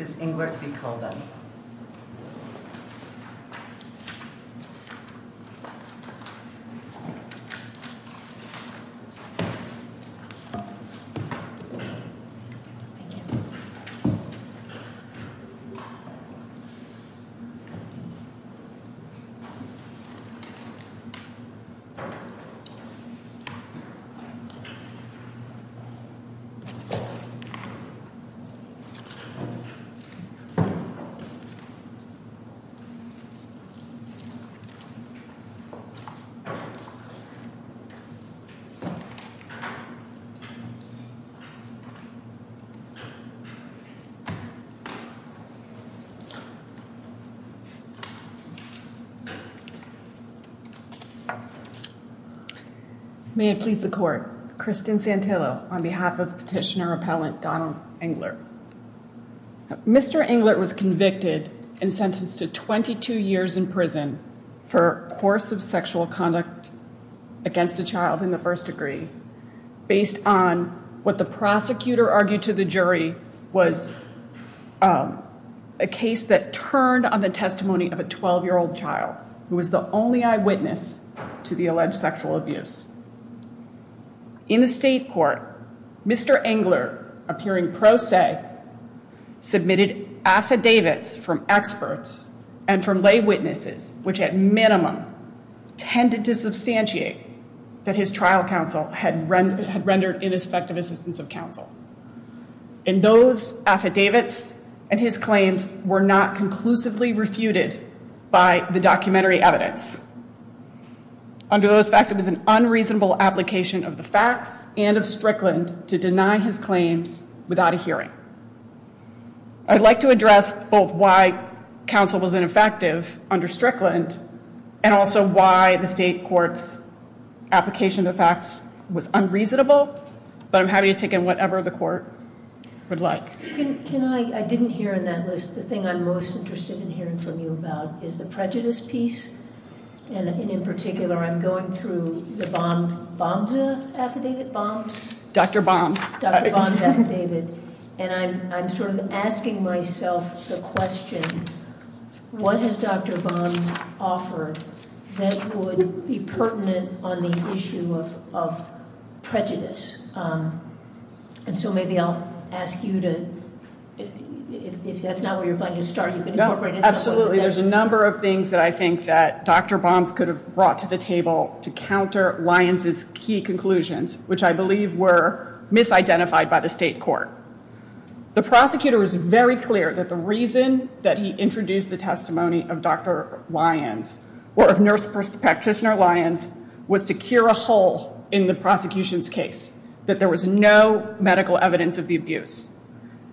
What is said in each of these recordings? This is Inglert v. Kogan May it please the court, Kristen Santillo on behalf of Petitioner Appellant Donald Inglert. Mr. Inglert was convicted and sentenced to 22 years in prison for course of sexual conduct against a child in the first degree based on what the prosecutor argued to the jury was a case that turned on the testimony of a 12-year-old child who was the only eyewitness to the alleged sexual abuse. In the state court, Mr. Inglert, appearing pro se, submitted affidavits from experts and from lay witnesses which at minimum tended to substantiate that his trial counsel had rendered ineffective assistance of counsel. And those affidavits and his claims were not conclusively refuted by the documentary evidence. Under those facts, it was an unreasonable application of the facts and of Strickland to deny his claims without a hearing. I'd like to address both why counsel was ineffective under Strickland and also why the state court's application of the facts was unreasonable, but I'm happy to take in whatever the court would like. Can I, I didn't hear in that list, the thing I'm most interested in hearing from you about is the prejudice piece. And in particular, I'm going through the bombs, bombs affidavit, bombs? Dr. Bombs. Dr. Bombs affidavit. And I'm sort of asking myself the question, what has Dr. Bombs offered that would be pertinent on the issue of prejudice? And so maybe I'll ask you to, if that's not where you're planning to start. Absolutely. There's a number of things that I think that Dr. Bombs could have brought to the table to counter Lyons' key conclusions, which I believe were misidentified by the state court. The prosecutor is very clear that the reason that he introduced the testimony of Dr. Lyons or of nurse practitioner Lyons was to cure a hole in the prosecution's case, that there was no medical evidence of the abuse.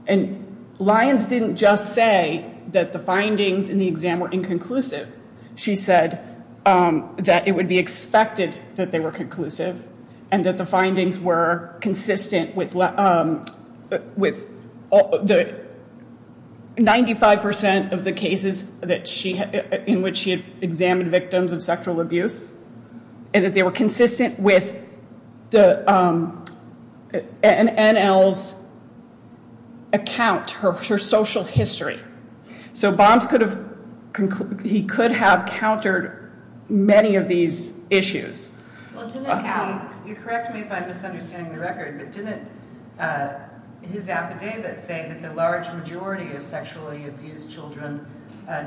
And Lyons didn't just say that the findings in the exam were inconclusive. She said that it would be expected that they were conclusive and that the findings were consistent with 95 percent of the cases in which she examined victims of sexual abuse. And that they were consistent with an NL's account, her social history. So Bombs could have, he could have countered many of these issues. You correct me if I'm misunderstanding the record, but didn't his affidavit say that the large majority of sexually abused children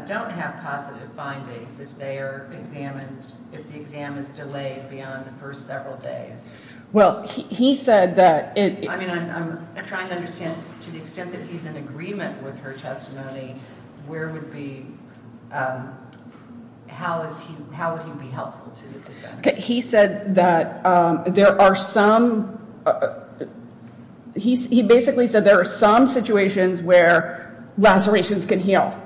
don't have positive findings if they are examined, if the exam is delayed beyond the first several days? I'm trying to understand, to the extent that he's in agreement with her testimony, where would be, how would he be helpful to the defense? He said that there are some, he basically said there are some situations where lacerations can heal.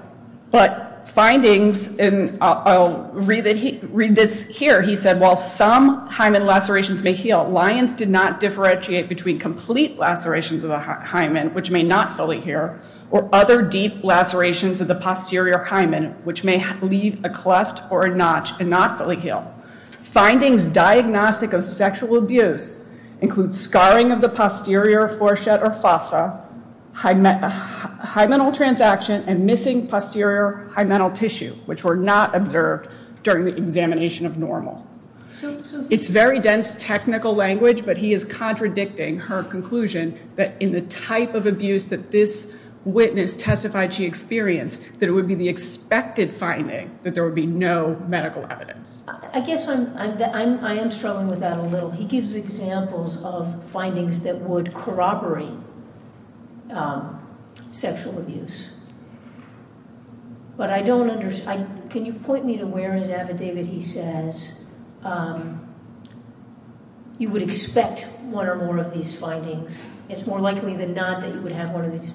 But findings, and I'll read this here, he said while some hymen lacerations may heal, Lyons did not differentiate between complete lacerations of the hymen, which may not fully heal, or other deep lacerations of the posterior hymen, which may leave a cleft or a notch and not fully heal. Findings diagnostic of sexual abuse include scarring of the posterior foreshad or fossa, hymenal transaction, and missing posterior hymenal tissue, which were not observed during the examination of normal. It's very dense technical language, but he is contradicting her conclusion that in the type of abuse that this witness testified she experienced, that it would be the expected finding that there would be no medical evidence. I guess I'm, I am struggling with that a little. He gives examples of findings that would corroborate sexual abuse. But I don't understand, can you point me to where in his affidavit he says you would expect one or more of these findings? It's more likely than not that you would have one of these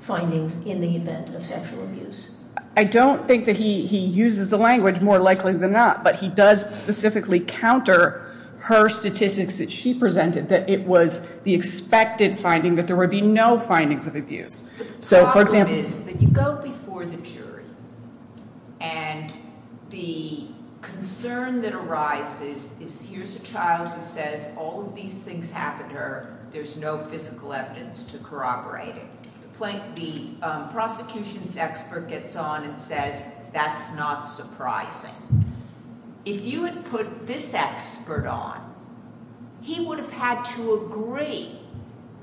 findings in the event of sexual abuse. I don't think that he uses the language more likely than not, but he does specifically counter her statistics that she presented that it was the expected finding that there would be no findings of abuse. The problem is that you go before the jury and the concern that arises is here's a child who says all of these things happened to her, there's no physical evidence to corroborate it. The prosecution's expert gets on and says that's not surprising. But if you had put this expert on, he would have had to agree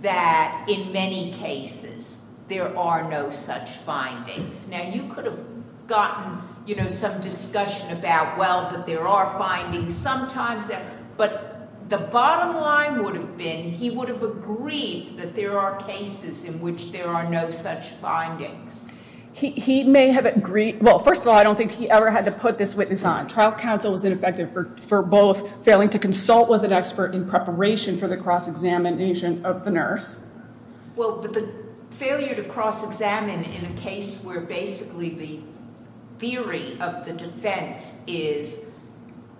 that in many cases there are no such findings. Now you could have gotten some discussion about well, but there are findings sometimes, but the bottom line would have been he would have agreed that there are cases in which there are no such findings. Well, first of all, I don't think he ever had to put this witness on. Trial counsel was ineffective for both failing to consult with an expert in preparation for the cross-examination of the nurse. Well, but the failure to cross-examine in a case where basically the theory of the defense is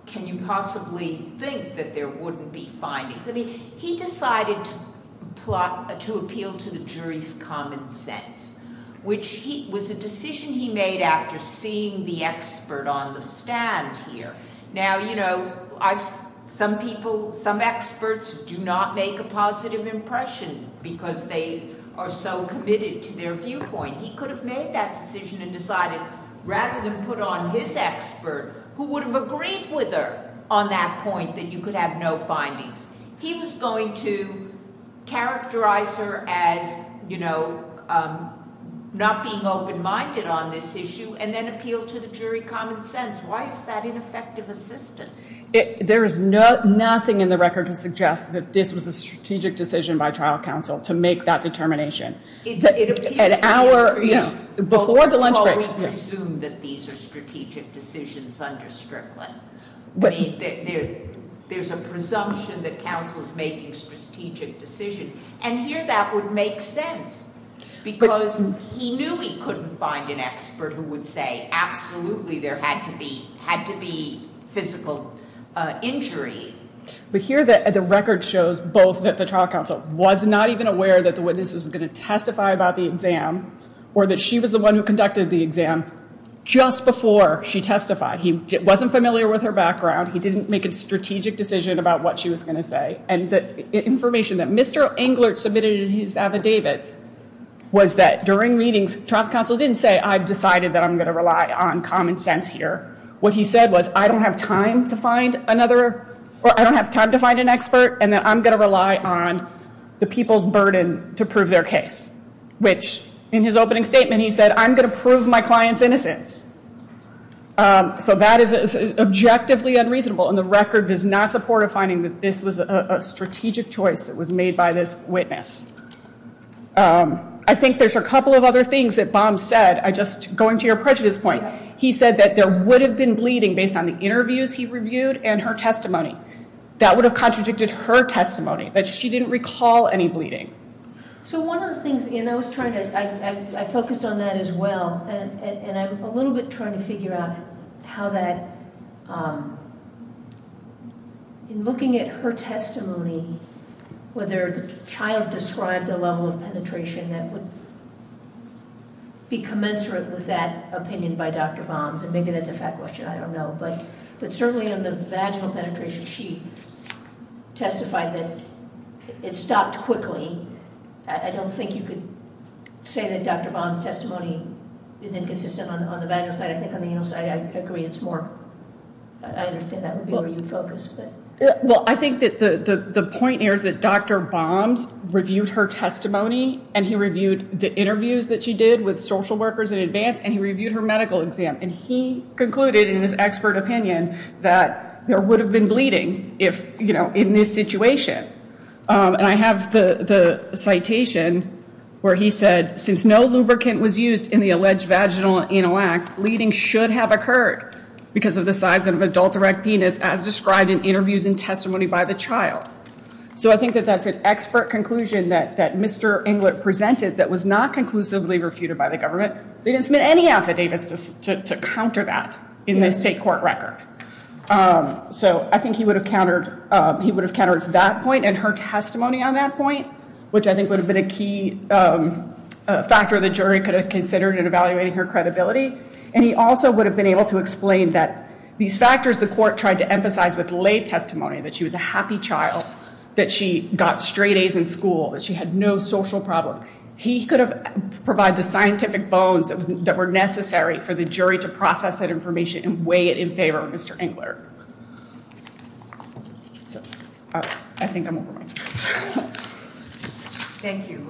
can you possibly think that there wouldn't be findings? He decided to appeal to the jury's common sense, which was a decision he made after seeing the expert on the stand here. Now, you know, some people, some experts do not make a positive impression because they are so committed to their viewpoint. He could have made that decision and decided rather than put on his expert who would have agreed with her on that point that you could have no findings. He was going to characterize her as, you know, not being open-minded on this issue and then appeal to the jury common sense. Why is that ineffective assistance? There is nothing in the record to suggest that this was a strategic decision by trial counsel to make that determination. Before the lunch break. Well, we presume that these are strategic decisions under Strickland. There's a presumption that counsel is making strategic decisions, and here that would make sense because he knew he couldn't find an expert who would say absolutely there had to be physical injury. But here the record shows both that the trial counsel was not even aware that the witness was going to testify about the exam or that she was the one who conducted the exam just before she testified. He wasn't familiar with her background. He didn't make a strategic decision about what she was going to say. And the information that Mr. Englert submitted in his affidavits was that during meetings, trial counsel didn't say I've decided that I'm going to rely on common sense here. What he said was I don't have time to find another or I don't have time to find an expert and that I'm going to rely on the people's burden to prove their case. Which in his opening statement, he said I'm going to prove my client's innocence. So that is objectively unreasonable and the record does not support a finding that this was a strategic choice that was made by this witness. I think there's a couple of other things that Baum said. I just, going to your prejudice point, he said that there would have been bleeding based on the interviews he reviewed and her testimony. That would have contradicted her testimony, that she didn't recall any bleeding. So one of the things, and I was trying to, I focused on that as well. And I'm a little bit trying to figure out how that, in looking at her testimony, whether the child described a level of penetration that would be commensurate with that opinion by Dr. Baum. And maybe that's a fact question, I don't know. But certainly on the vaginal penetration, she testified that it stopped quickly. I don't think you could say that Dr. Baum's testimony is inconsistent on the vaginal side. I think on the anal side, I agree it's more, I understand that would be where you'd focus. Well, I think that the point here is that Dr. Baum's reviewed her testimony. And he reviewed the interviews that she did with social workers in advance. And he reviewed her medical exam. And he concluded in his expert opinion that there would have been bleeding if, you know, in this situation. And I have the citation where he said, since no lubricant was used in the alleged vaginal and anal acts, bleeding should have occurred because of the size of an adult erect penis as described in interviews and testimony by the child. So I think that that's an expert conclusion that Mr. Englert presented that was not conclusively refuted by the government. They didn't submit any affidavits to counter that in the state court record. So I think he would have countered, he would have countered that point and her testimony on that point, which I think would have been a key factor the jury could have considered in evaluating her credibility. And he also would have been able to explain that these factors the court tried to emphasize with late testimony, that she was a happy child, that she got straight A's in school, that she had no social problems. He could have provided the scientific bones that were necessary for the jury to process that information and weigh it in favor of Mr. Englert. So I think I'm over my time. Thank you.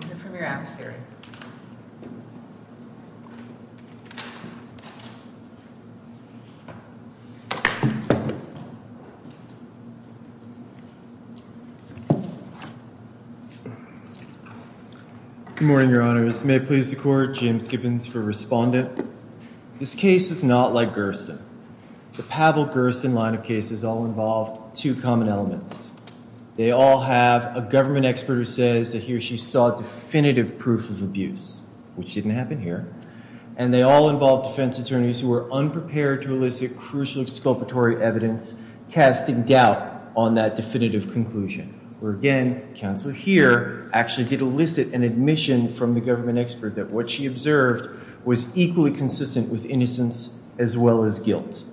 Good morning, Your Honors. May it please the court, James Gibbons for respondent. This case is not like Gersten. The Pavel-Gersten line of cases all involve two common elements. They all have a government expert who says that he or she saw definitive proof of abuse, which didn't happen here. And they all involve defense attorneys who were unprepared to elicit crucial exculpatory evidence, casting doubt on that definitive conclusion. Where again, counsel here actually did elicit an admission from the government expert that what she observed was equally consistent with innocence as well as guilt.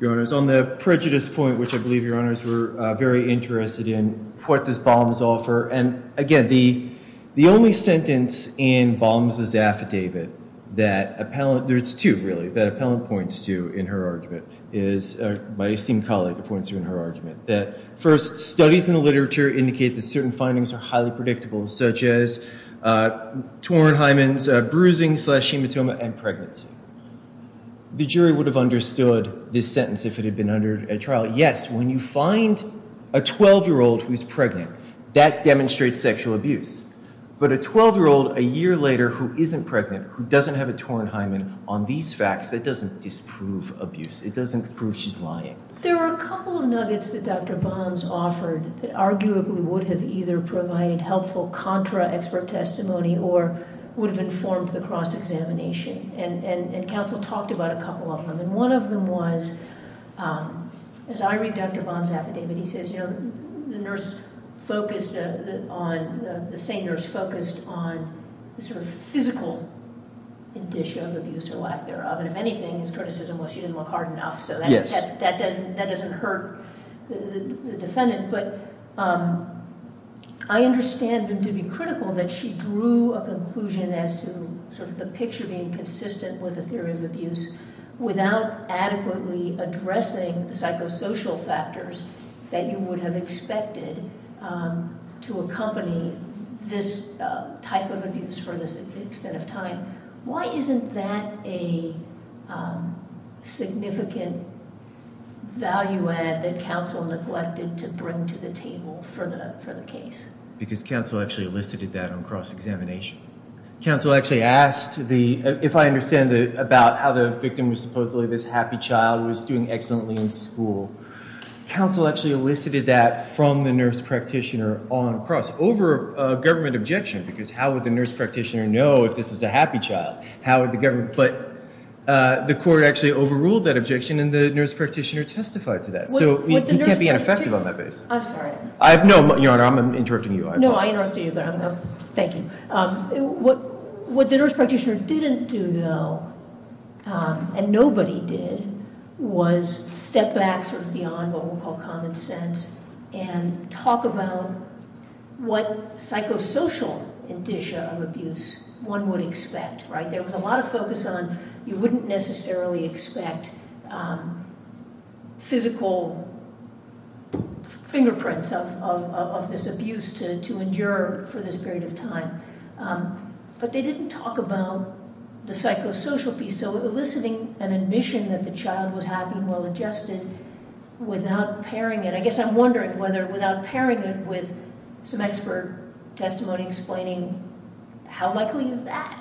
Your Honors, on the prejudice point, which I believe Your Honors were very interested in, what does Balmes offer? And again, the only sentence in Balmes' affidavit that appellant, there's two really, that appellant points to in her argument is, my esteemed colleague points to in her argument, that first, studies in the literature indicate that certain findings are highly predictable, such as Tornheimen's bruising slash hematoma and pregnancy. The jury would have understood this sentence if it had been under a trial. Yes, when you find a 12-year-old who's pregnant, that demonstrates sexual abuse. But a 12-year-old a year later who isn't pregnant, who doesn't have a Tornheimen on these facts, that doesn't disprove abuse. It doesn't prove she's lying. There are a couple of nuggets that Dr. Balmes offered that arguably would have either provided helpful contra-expert testimony or would have informed the cross-examination. And counsel talked about a couple of them. And one of them was, as I read Dr. Balmes' affidavit, he says, you know, the nurse focused on, the same nurse focused on the sort of physical indicia of abuse or lack thereof. And if anything, his criticism was she didn't look hard enough. So that doesn't hurt the defendant. But I understand him to be critical that she drew a conclusion as to sort of the picture being consistent with the theory of abuse without adequately addressing the psychosocial factors that you would have expected to accompany this type of abuse for this extent of time. Why isn't that a significant value add that counsel neglected to bring to the table for the case? Because counsel actually elicited that on cross-examination. Counsel actually asked the, if I understand it, about how the victim was supposedly this happy child who was doing excellently in school. Counsel actually elicited that from the nurse practitioner on cross, over a government objection. Because how would the nurse practitioner know if this is a happy child? How would the government, but the court actually overruled that objection and the nurse practitioner testified to that. So he can't be ineffective on that basis. I'm sorry. No, Your Honor, I'm interrupting you. No, I interrupted you, but thank you. What the nurse practitioner didn't do, though, and nobody did, was step back sort of beyond what we'll call common sense and talk about what psychosocial indicia of abuse one would expect. There was a lot of focus on you wouldn't necessarily expect physical fingerprints of this abuse to endure for this period of time. But they didn't talk about the psychosocial piece. So eliciting an admission that the child was happy and well-adjusted without pairing it. I guess I'm wondering whether without pairing it with some expert testimony explaining how likely is that?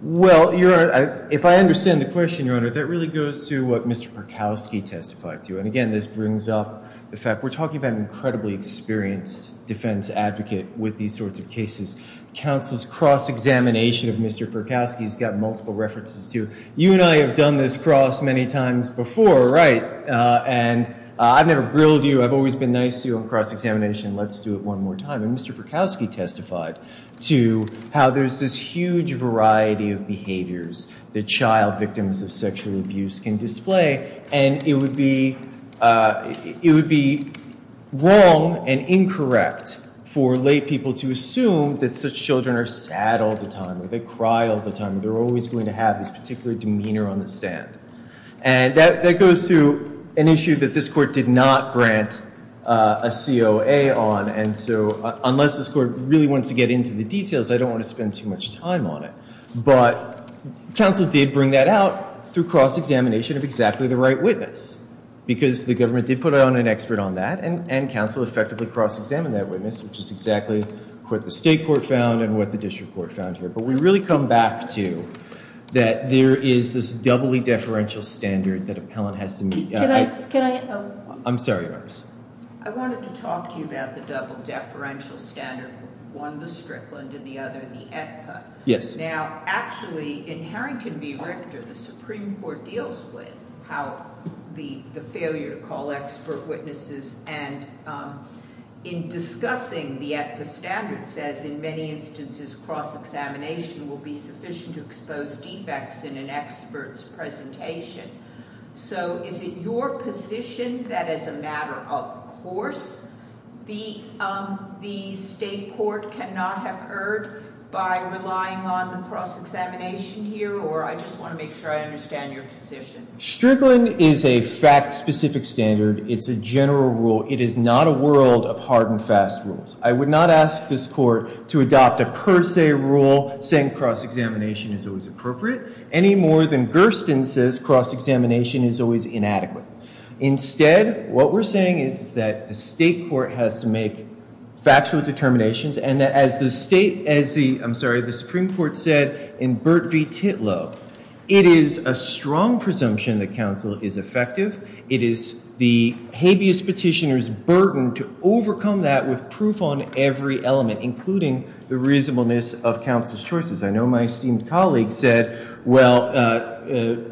Well, Your Honor, if I understand the question, Your Honor, that really goes to what Mr. Perkowski testified to. And again, this brings up the fact we're talking about an incredibly experienced defense advocate with these sorts of cases. Counsel's cross-examination of Mr. Perkowski has got multiple references to. You and I have done this cross many times before, right? And I've never grilled you. I've always been nice to you on cross-examination. Let's do it one more time. And Mr. Perkowski testified to how there's this huge variety of behaviors that child victims of sexual abuse can display. And it would be wrong and incorrect for laypeople to assume that such children are sad all the time or they cry all the time. They're always going to have this particular demeanor on the stand. And that goes to an issue that this Court did not grant a COA on. And so unless this Court really wants to get into the details, I don't want to spend too much time on it. But counsel did bring that out through cross-examination of exactly the right witness. Because the government did put out an expert on that, and counsel effectively cross-examined that witness, which is exactly what the state court found and what the district court found here. But we really come back to that there is this doubly deferential standard that appellant has to meet. I'm sorry, Your Honor. I wanted to talk to you about the double deferential standard, one the Strickland and the other the AEDPA. Yes. Now, actually, in Harrington v. Richter, the Supreme Court deals with how the failure to call expert witnesses. And in discussing the AEDPA standard says, in many instances, cross-examination will be sufficient to expose defects in an expert's presentation. So is it your position that, as a matter of course, the state court cannot have erred by relying on the cross-examination here? Or I just want to make sure I understand your position. Strickland is a fact-specific standard. It's a general rule. It is not a world of hard and fast rules. I would not ask this Court to adopt a per se rule saying cross-examination is always appropriate, any more than Gersten says cross-examination is always inadequate. Instead, what we're saying is that the state court has to make factual determinations, and that as the Supreme Court said in Burt v. Titlow, it is a strong presumption that counsel is effective. It is the habeas petitioner's burden to overcome that with proof on every element, including the reasonableness of counsel's choices. I know my esteemed colleague said, well,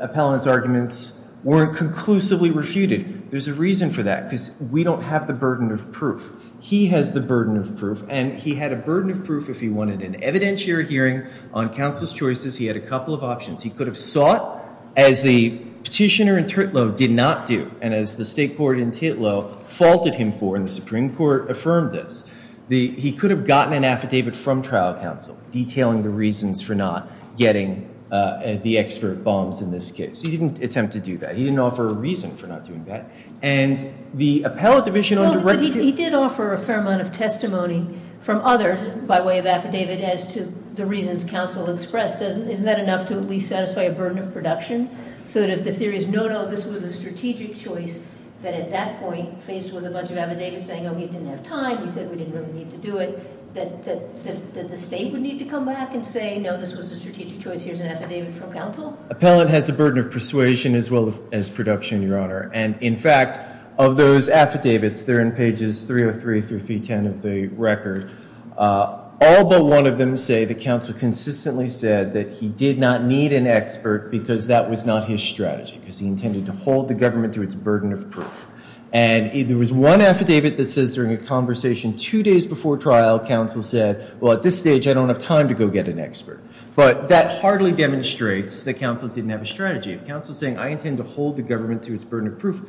appellant's arguments weren't conclusively refuted. There's a reason for that, because we don't have the burden of proof. He has the burden of proof, and he had a burden of proof if he wanted an evidentiary hearing on counsel's choices. He had a couple of options. He could have sought, as the petitioner in Titlow did not do, and as the state court in Titlow faulted him for, and the Supreme Court affirmed this. He could have gotten an affidavit from trial counsel detailing the reasons for not getting the expert bombs in this case. He didn't attempt to do that. He didn't offer a reason for not doing that, and the appellate division under- But he did offer a fair amount of testimony from others by way of affidavit as to the reasons counsel expressed. Isn't that enough to at least satisfy a burden of production? So that if the theory is, no, no, this was a strategic choice that at that point faced with a bunch of affidavits saying, no, we didn't have time, we said we didn't really need to do it, that the state would need to come back and say, no, this was a strategic choice, here's an affidavit from counsel? Appellant has a burden of persuasion as well as production, Your Honor, and in fact, of those affidavits, they're in pages 303 through 310 of the record. All but one of them say the counsel consistently said that he did not need an expert because that was not his strategy, because he intended to hold the government to its burden of proof. And there was one affidavit that says during a conversation two days before trial, counsel said, well, at this stage, I don't have time to go get an expert. But that hardly demonstrates that counsel didn't have a strategy. If counsel is saying, I intend to hold the government to its burden of proof,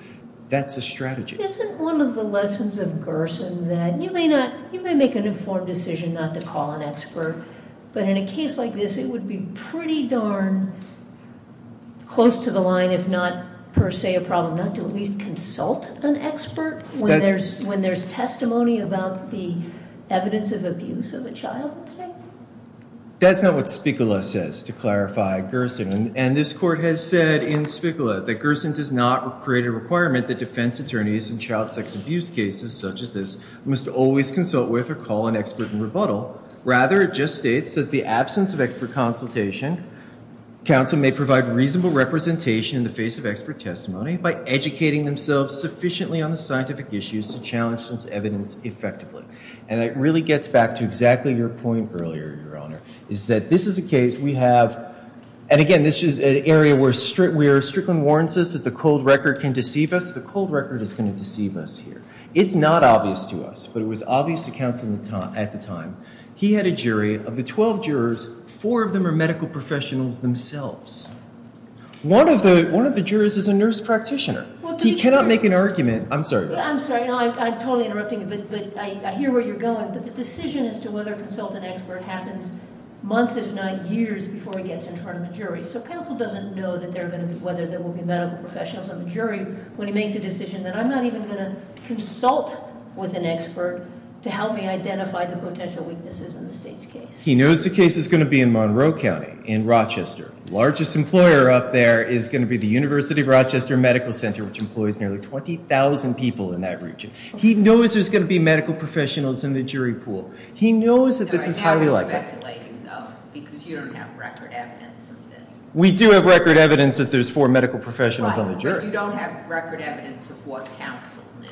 that's a strategy. Isn't one of the lessons of Gerson that you may make an informed decision not to call an expert, but in a case like this, it would be pretty darn close to the line, if not per se a problem, not to at least consult an expert when there's testimony about the evidence of abuse of a child, let's say? That's not what Spicula says, to clarify Gerson. And this court has said in Spicula that Gerson does not create a requirement that defense attorneys in child sex abuse cases such as this must always consult with or call an expert in rebuttal. Rather, it just states that the absence of expert consultation, counsel may provide reasonable representation in the face of expert testimony by educating themselves sufficiently on the scientific issues to challenge this evidence effectively. And it really gets back to exactly your point earlier, Your Honor, is that this is a case we have, and again, this is an area where Strickland warns us that the cold record can deceive us. The cold record is going to deceive us here. It's not obvious to us, but it was obvious to counsel at the time. He had a jury of the 12 jurors. Four of them are medical professionals themselves. One of the jurors is a nurse practitioner. He cannot make an argument. I'm sorry. I'm sorry. I'm totally interrupting, but I hear where you're going. But the decision as to whether to consult an expert happens months if not years before he gets in front of a jury. So counsel doesn't know whether there will be medical professionals on the jury when he makes a decision that I'm not even going to consult with an expert to help me identify the potential weaknesses in the state's case. He knows the case is going to be in Monroe County in Rochester. The largest employer up there is going to be the University of Rochester Medical Center, which employs nearly 20,000 people in that region. He knows there's going to be medical professionals in the jury pool. He knows that this is highly likely. I'm speculating, though, because you don't have record evidence of this. We do have record evidence that there's four medical professionals on the jury. But you don't have record evidence of what counsel knew.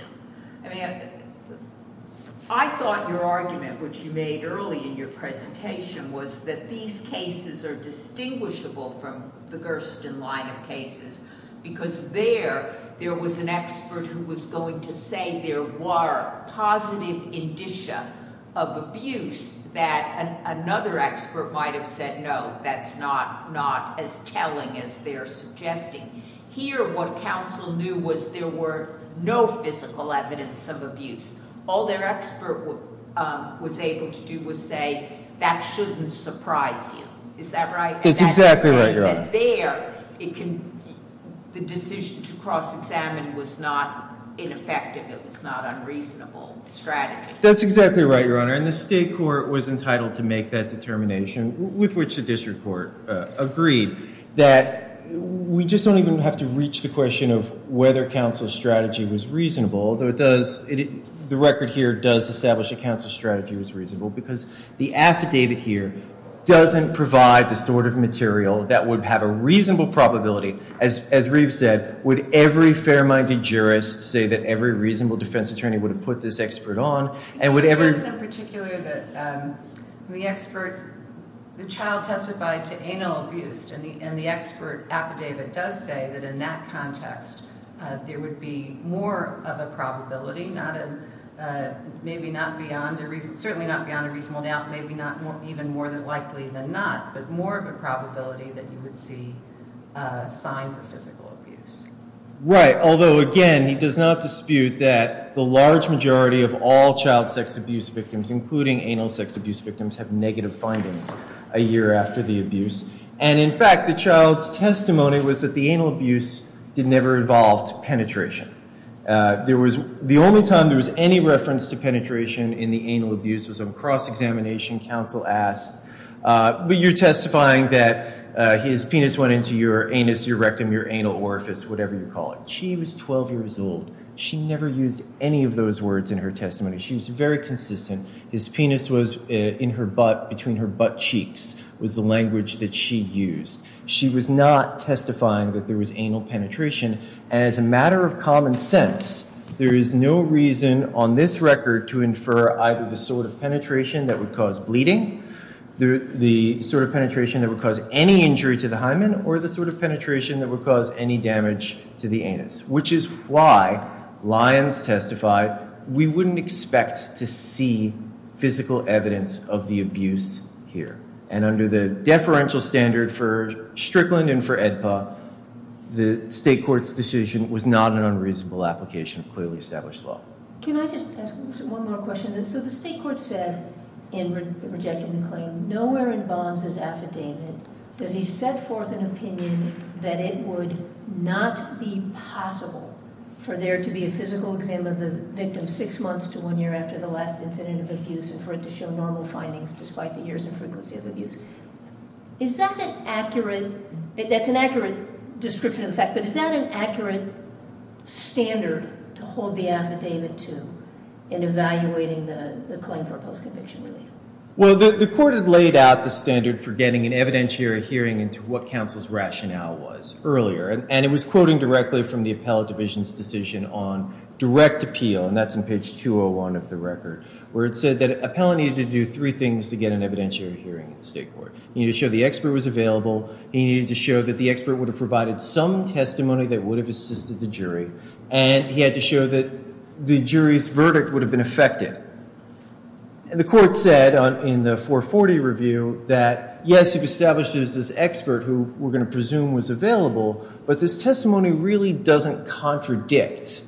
I thought your argument, which you made early in your presentation, was that these cases are distinguishable from the Gersten line of cases because there, there was an expert who was going to say there were positive indicia of abuse that another expert might have said, no, that's not as telling as they're suggesting. Here, what counsel knew was there were no physical evidence of abuse. All their expert was able to do was say, that shouldn't surprise you. Is that right? That's exactly right, Your Honor. That there, the decision to cross-examine was not ineffective. It was not unreasonable strategy. That's exactly right, Your Honor. And the state court was entitled to make that determination, with which the district court agreed, that we just don't even have to reach the question of whether counsel's strategy was reasonable. Though it does, the record here does establish that counsel's strategy was reasonable because the affidavit here doesn't provide the sort of material that would have a reasonable probability. As Reeve said, would every fair-minded jurist say that every reasonable defense attorney would have put this expert on? I think the case in particular that the expert, the child testified to anal abuse and the expert affidavit does say that in that context, there would be more of a probability, certainly not beyond a reasonable doubt, maybe even more likely than not, but more of a probability that you would see signs of physical abuse. Right, although again, he does not dispute that the large majority of all child sex abuse victims, including anal sex abuse victims, have negative findings a year after the abuse. And in fact, the child's testimony was that the anal abuse never involved penetration. The only time there was any reference to penetration in the anal abuse was on cross-examination. Counsel asked, were you testifying that his penis went into your anus, your rectum, your anal orifice, whatever you call it. She was 12 years old. She never used any of those words in her testimony. She was very consistent. His penis was in her butt, between her butt cheeks was the language that she used. She was not testifying that there was anal penetration. As a matter of common sense, there is no reason on this record to infer either the sort of penetration that would cause bleeding, the sort of penetration that would cause any injury to the hymen, or the sort of penetration that would cause any damage to the anus, which is why Lyons testified we wouldn't expect to see physical evidence of the abuse here. And under the deferential standard for Strickland and for AEDPA, the state court's decision was not an unreasonable application of clearly established law. Can I just ask one more question? So the state court said in rejecting the claim, nowhere in Bonds' affidavit does he set forth an opinion that it would not be possible for there to be a physical exam of the victim six months to one year after the last incident of abuse and for it to show normal findings despite the years and frequency of abuse. Is that an accurate, that's an accurate description of the fact, but is that an accurate standard to hold the affidavit to in evaluating the claim for post-conviction relief? Well, the court had laid out the standard for getting an evidentiary hearing into what counsel's rationale was earlier, and it was quoting directly from the appellate division's decision on direct appeal, and that's on page 201 of the record, where it said that appellant needed to do three things to get an evidentiary hearing in state court. He needed to show the expert was available, he needed to show that the expert would have provided some testimony that would have assisted the jury, and he had to show that the jury's verdict would have been affected. And the court said in the 440 review that yes, it establishes this expert who we're going to presume was available, but this testimony really doesn't contradict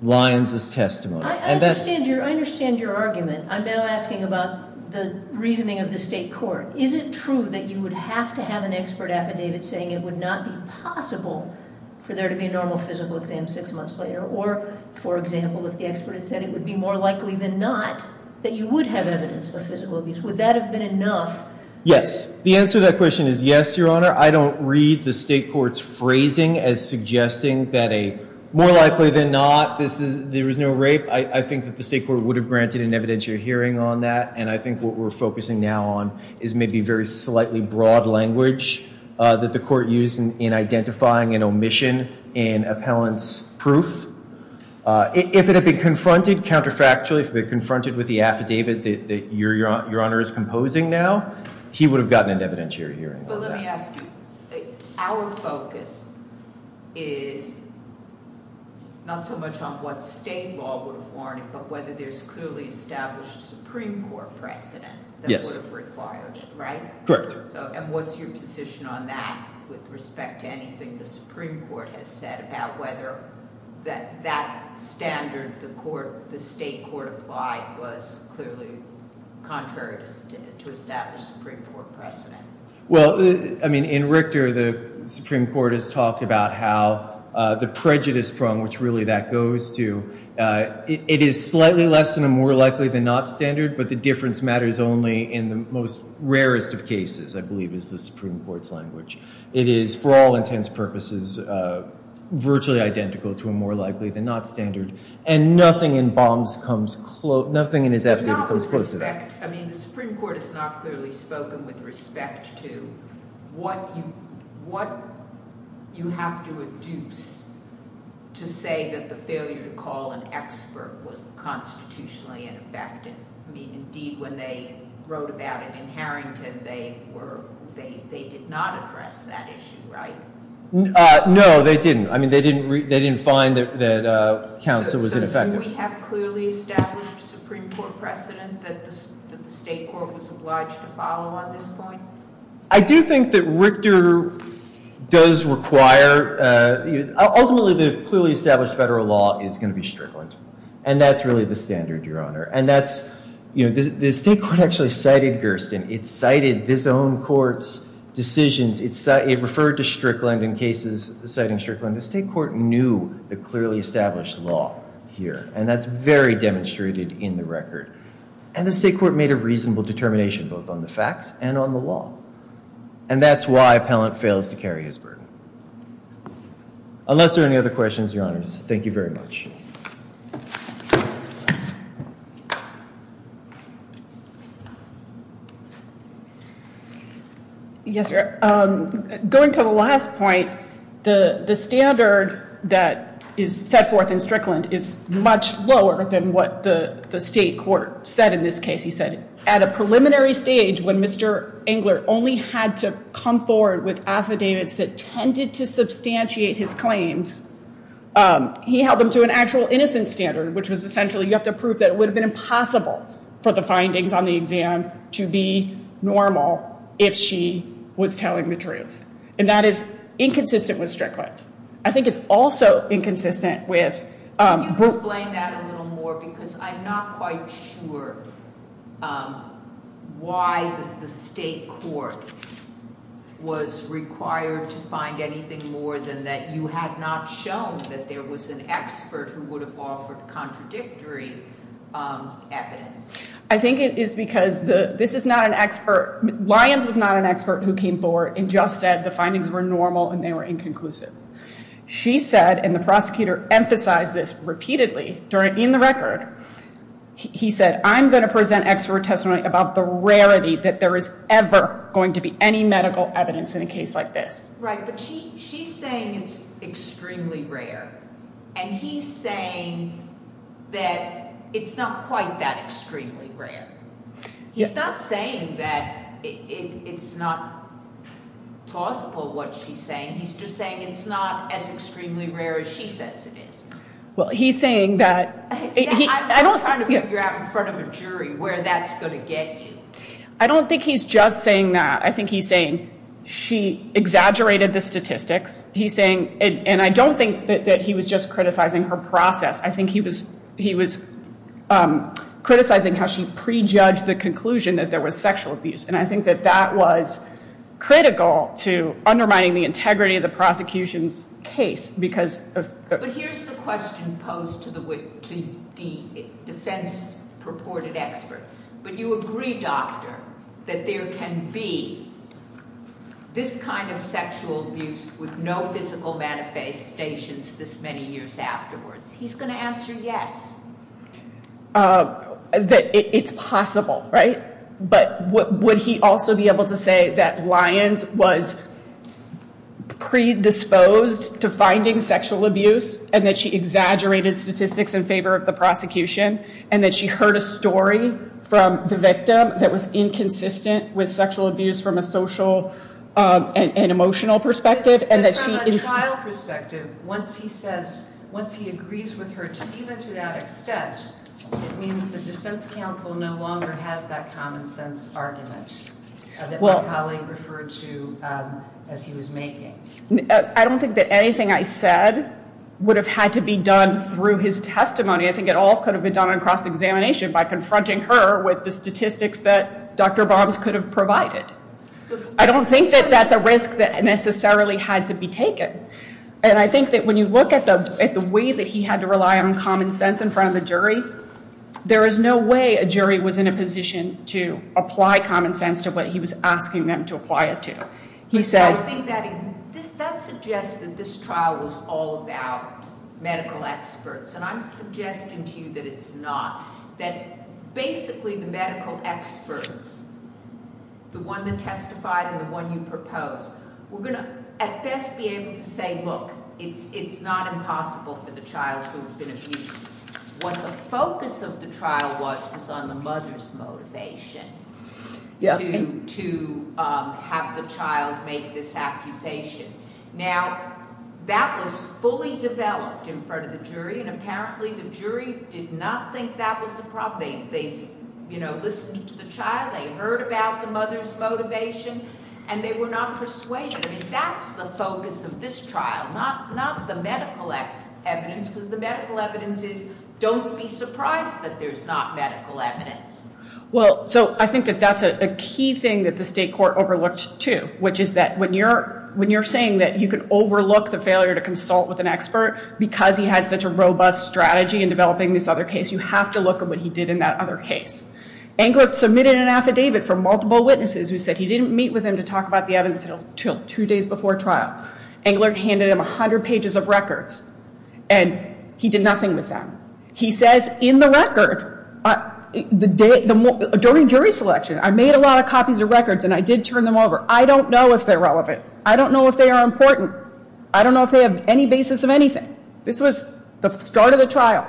Lyons' testimony. I understand your argument. I'm now asking about the reasoning of the state court. Is it true that you would have to have an expert affidavit saying it would not be possible for there to be a normal physical exam six months later, or, for example, if the expert had said it would be more likely than not that you would have evidence of physical abuse? Would that have been enough? Yes. The answer to that question is yes, Your Honor. I don't read the state court's phrasing as suggesting that a more likely than not there was no rape. I think that the state court would have granted an evidentiary hearing on that, and I think what we're focusing now on is maybe very slightly broad language that the court used in identifying an omission in appellant's proof. If it had been confronted counterfactually, if it had been confronted with the affidavit that Your Honor is composing now, he would have gotten an evidentiary hearing on that. But let me ask you, our focus is not so much on what state law would have warned, but whether there's clearly established a Supreme Court precedent that would have required it, right? Correct. And what's your position on that with respect to anything the Supreme Court has said about whether that standard the state court applied was clearly contrary to establish a Supreme Court precedent? Well, I mean, in Richter, the Supreme Court has talked about how the prejudice prong, which really that goes to, it is slightly less than a more likely than not standard, but the difference matters only in the most rarest of cases, I believe, is the Supreme Court's language. It is, for all intents and purposes, virtually identical to a more likely than not standard, and nothing in Baum's comes close, nothing in his affidavit comes close to that. With respect, I mean, the Supreme Court has not clearly spoken with respect to what you have to adduce to say that the failure to call an expert was constitutionally ineffective. I mean, indeed, when they wrote about it in Harrington, they did not address that issue, right? No, they didn't. I mean, they didn't find that counsel was ineffective. Do we have clearly established Supreme Court precedent that the state court was obliged to follow on this point? I do think that Richter does require, ultimately, the clearly established federal law is going to be Strickland, and that's really the standard, Your Honor. And that's, you know, the state court actually cited Gerstin. It cited this own court's decisions. It referred to Strickland in cases citing Strickland. The state court knew the clearly established law here, and that's very demonstrated in the record. And the state court made a reasonable determination both on the facts and on the law, and that's why Pellant fails to carry his burden. Unless there are any other questions, Your Honors, thank you very much. Thank you. Yes, Your Honor. Going to the last point, the standard that is set forth in Strickland is much lower than what the state court said in this case. He said at a preliminary stage when Mr. Engler only had to come forward with affidavits that tended to substantiate his claims, he held them to an actual innocent standard, which was essentially you have to prove that it would have been impossible for the findings on the exam to be normal if she was telling the truth. And that is inconsistent with Strickland. I think it's also inconsistent with- Can you explain that a little more? Because I'm not quite sure why the state court was required to find anything more than that. You have not shown that there was an expert who would have offered contradictory evidence. I think it is because this is not an expert. Lyons was not an expert who came forward and just said the findings were normal and they were inconclusive. She said, and the prosecutor emphasized this repeatedly in the record, he said, I'm going to present expert testimony about the rarity that there is ever going to be any medical evidence in a case like this. Right, but she's saying it's extremely rare. And he's saying that it's not quite that extremely rare. He's not saying that it's not plausible what she's saying. He's just saying it's not as extremely rare as she says it is. Well, he's saying that- I'm trying to figure out in front of a jury where that's going to get you. I don't think he's just saying that. I think he's saying she exaggerated the statistics. He's saying, and I don't think that he was just criticizing her process. I think he was criticizing how she prejudged the conclusion that there was sexual abuse. And I think that that was critical to undermining the integrity of the prosecution's case because of- But here's the question posed to the defense purported expert. But you agree, doctor, that there can be this kind of sexual abuse with no physical manifestations this many years afterwards. He's going to answer yes. That it's possible, right? But would he also be able to say that Lyons was predisposed to finding sexual abuse and that she exaggerated statistics in favor of the prosecution and that she heard a story from the victim that was inconsistent with sexual abuse from a social and emotional perspective? From a trial perspective, once he agrees with her even to that extent, it means the defense counsel no longer has that common sense argument that my colleague referred to as he was making. I don't think that anything I said would have had to be done through his testimony. I think it all could have been done in cross-examination by confronting her with the statistics that Dr. Bombs could have provided. I don't think that that's a risk that necessarily had to be taken. And I think that when you look at the way that he had to rely on common sense in front of the jury, there is no way a jury was in a position to apply common sense to what he was asking them to apply it to. I think that suggests that this trial was all about medical experts. And I'm suggesting to you that it's not. That basically the medical experts, the one that testified and the one you proposed, were going to at best be able to say, look, it's not impossible for the child who had been abused. What the focus of the trial was was on the mother's motivation to have the child make this accusation. Now, that was fully developed in front of the jury, and apparently the jury did not think that was a problem. They listened to the child, they heard about the mother's motivation, and they were not persuaded. I mean, that's the focus of this trial, not the medical evidence, because the medical evidence is, don't be surprised that there's not medical evidence. Well, so I think that that's a key thing that the state court overlooked, too, which is that when you're saying that you can overlook the failure to consult with an expert because he had such a robust strategy in developing this other case, you have to look at what he did in that other case. Englert submitted an affidavit for multiple witnesses who said he didn't meet with them to talk about the evidence until two days before trial. Englert handed him 100 pages of records, and he did nothing with them. He says in the record, during jury selection, I made a lot of copies of records and I did turn them over. I don't know if they're relevant. I don't know if they are important. I don't know if they have any basis of anything. This was the start of the trial.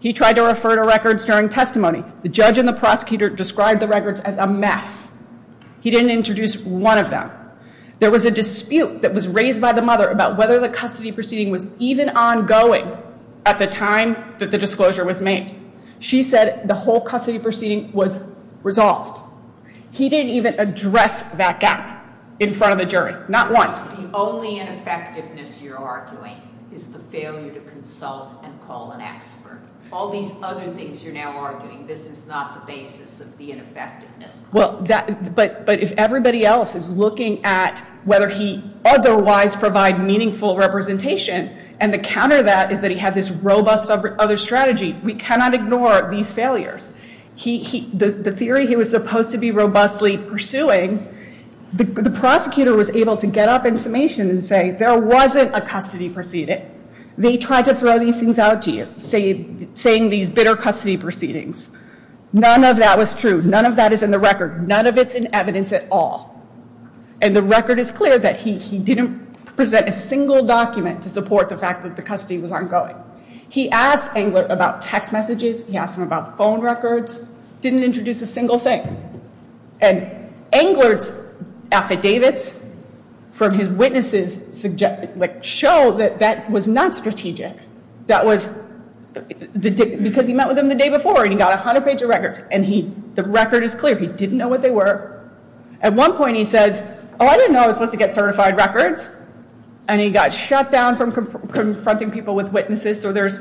He tried to refer to records during testimony. The judge and the prosecutor described the records as a mess. He didn't introduce one of them. There was a dispute that was raised by the mother about whether the custody proceeding was even ongoing at the time that the disclosure was made. She said the whole custody proceeding was resolved. He didn't even address that gap in front of the jury, not once. The only ineffectiveness you're arguing is the failure to consult and call an expert. All these other things you're now arguing, this is not the basis of the ineffectiveness. But if everybody else is looking at whether he otherwise provided meaningful representation, and the counter to that is that he had this robust other strategy, we cannot ignore these failures. The theory he was supposed to be robustly pursuing, the prosecutor was able to get up in summation and say there wasn't a custody proceeding. They tried to throw these things out to you, saying these bitter custody proceedings. None of that was true. None of that is in the record. None of it's in evidence at all. And the record is clear that he didn't present a single document to support the fact that the custody was ongoing. He asked Englert about text messages. He asked him about phone records. Didn't introduce a single thing. And Englert's affidavits from his witnesses show that that was not strategic. That was because he met with him the day before and he got 100 pages of records. And the record is clear. He didn't know what they were. At one point he says, oh, I didn't know I was supposed to get certified records. And he got shut down from confronting people with witnesses. So there's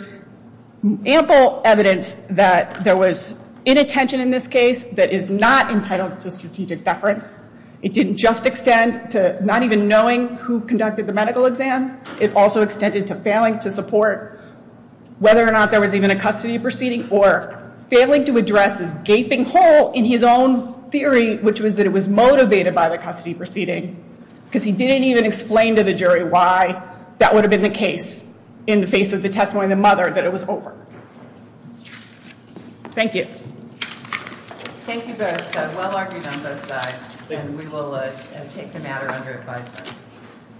ample evidence that there was inattention in this case that is not entitled to strategic deference. It didn't just extend to not even knowing who conducted the medical exam. It also extended to failing to support whether or not there was even a custody proceeding or failing to address this gaping hole in his own theory, which was that it was motivated by the custody proceeding. Because he didn't even explain to the jury why that would have been the case in the face of the testimony of the mother that it was over. Thank you. Thank you both. Well argued on both sides. And we will take the matter under advisement.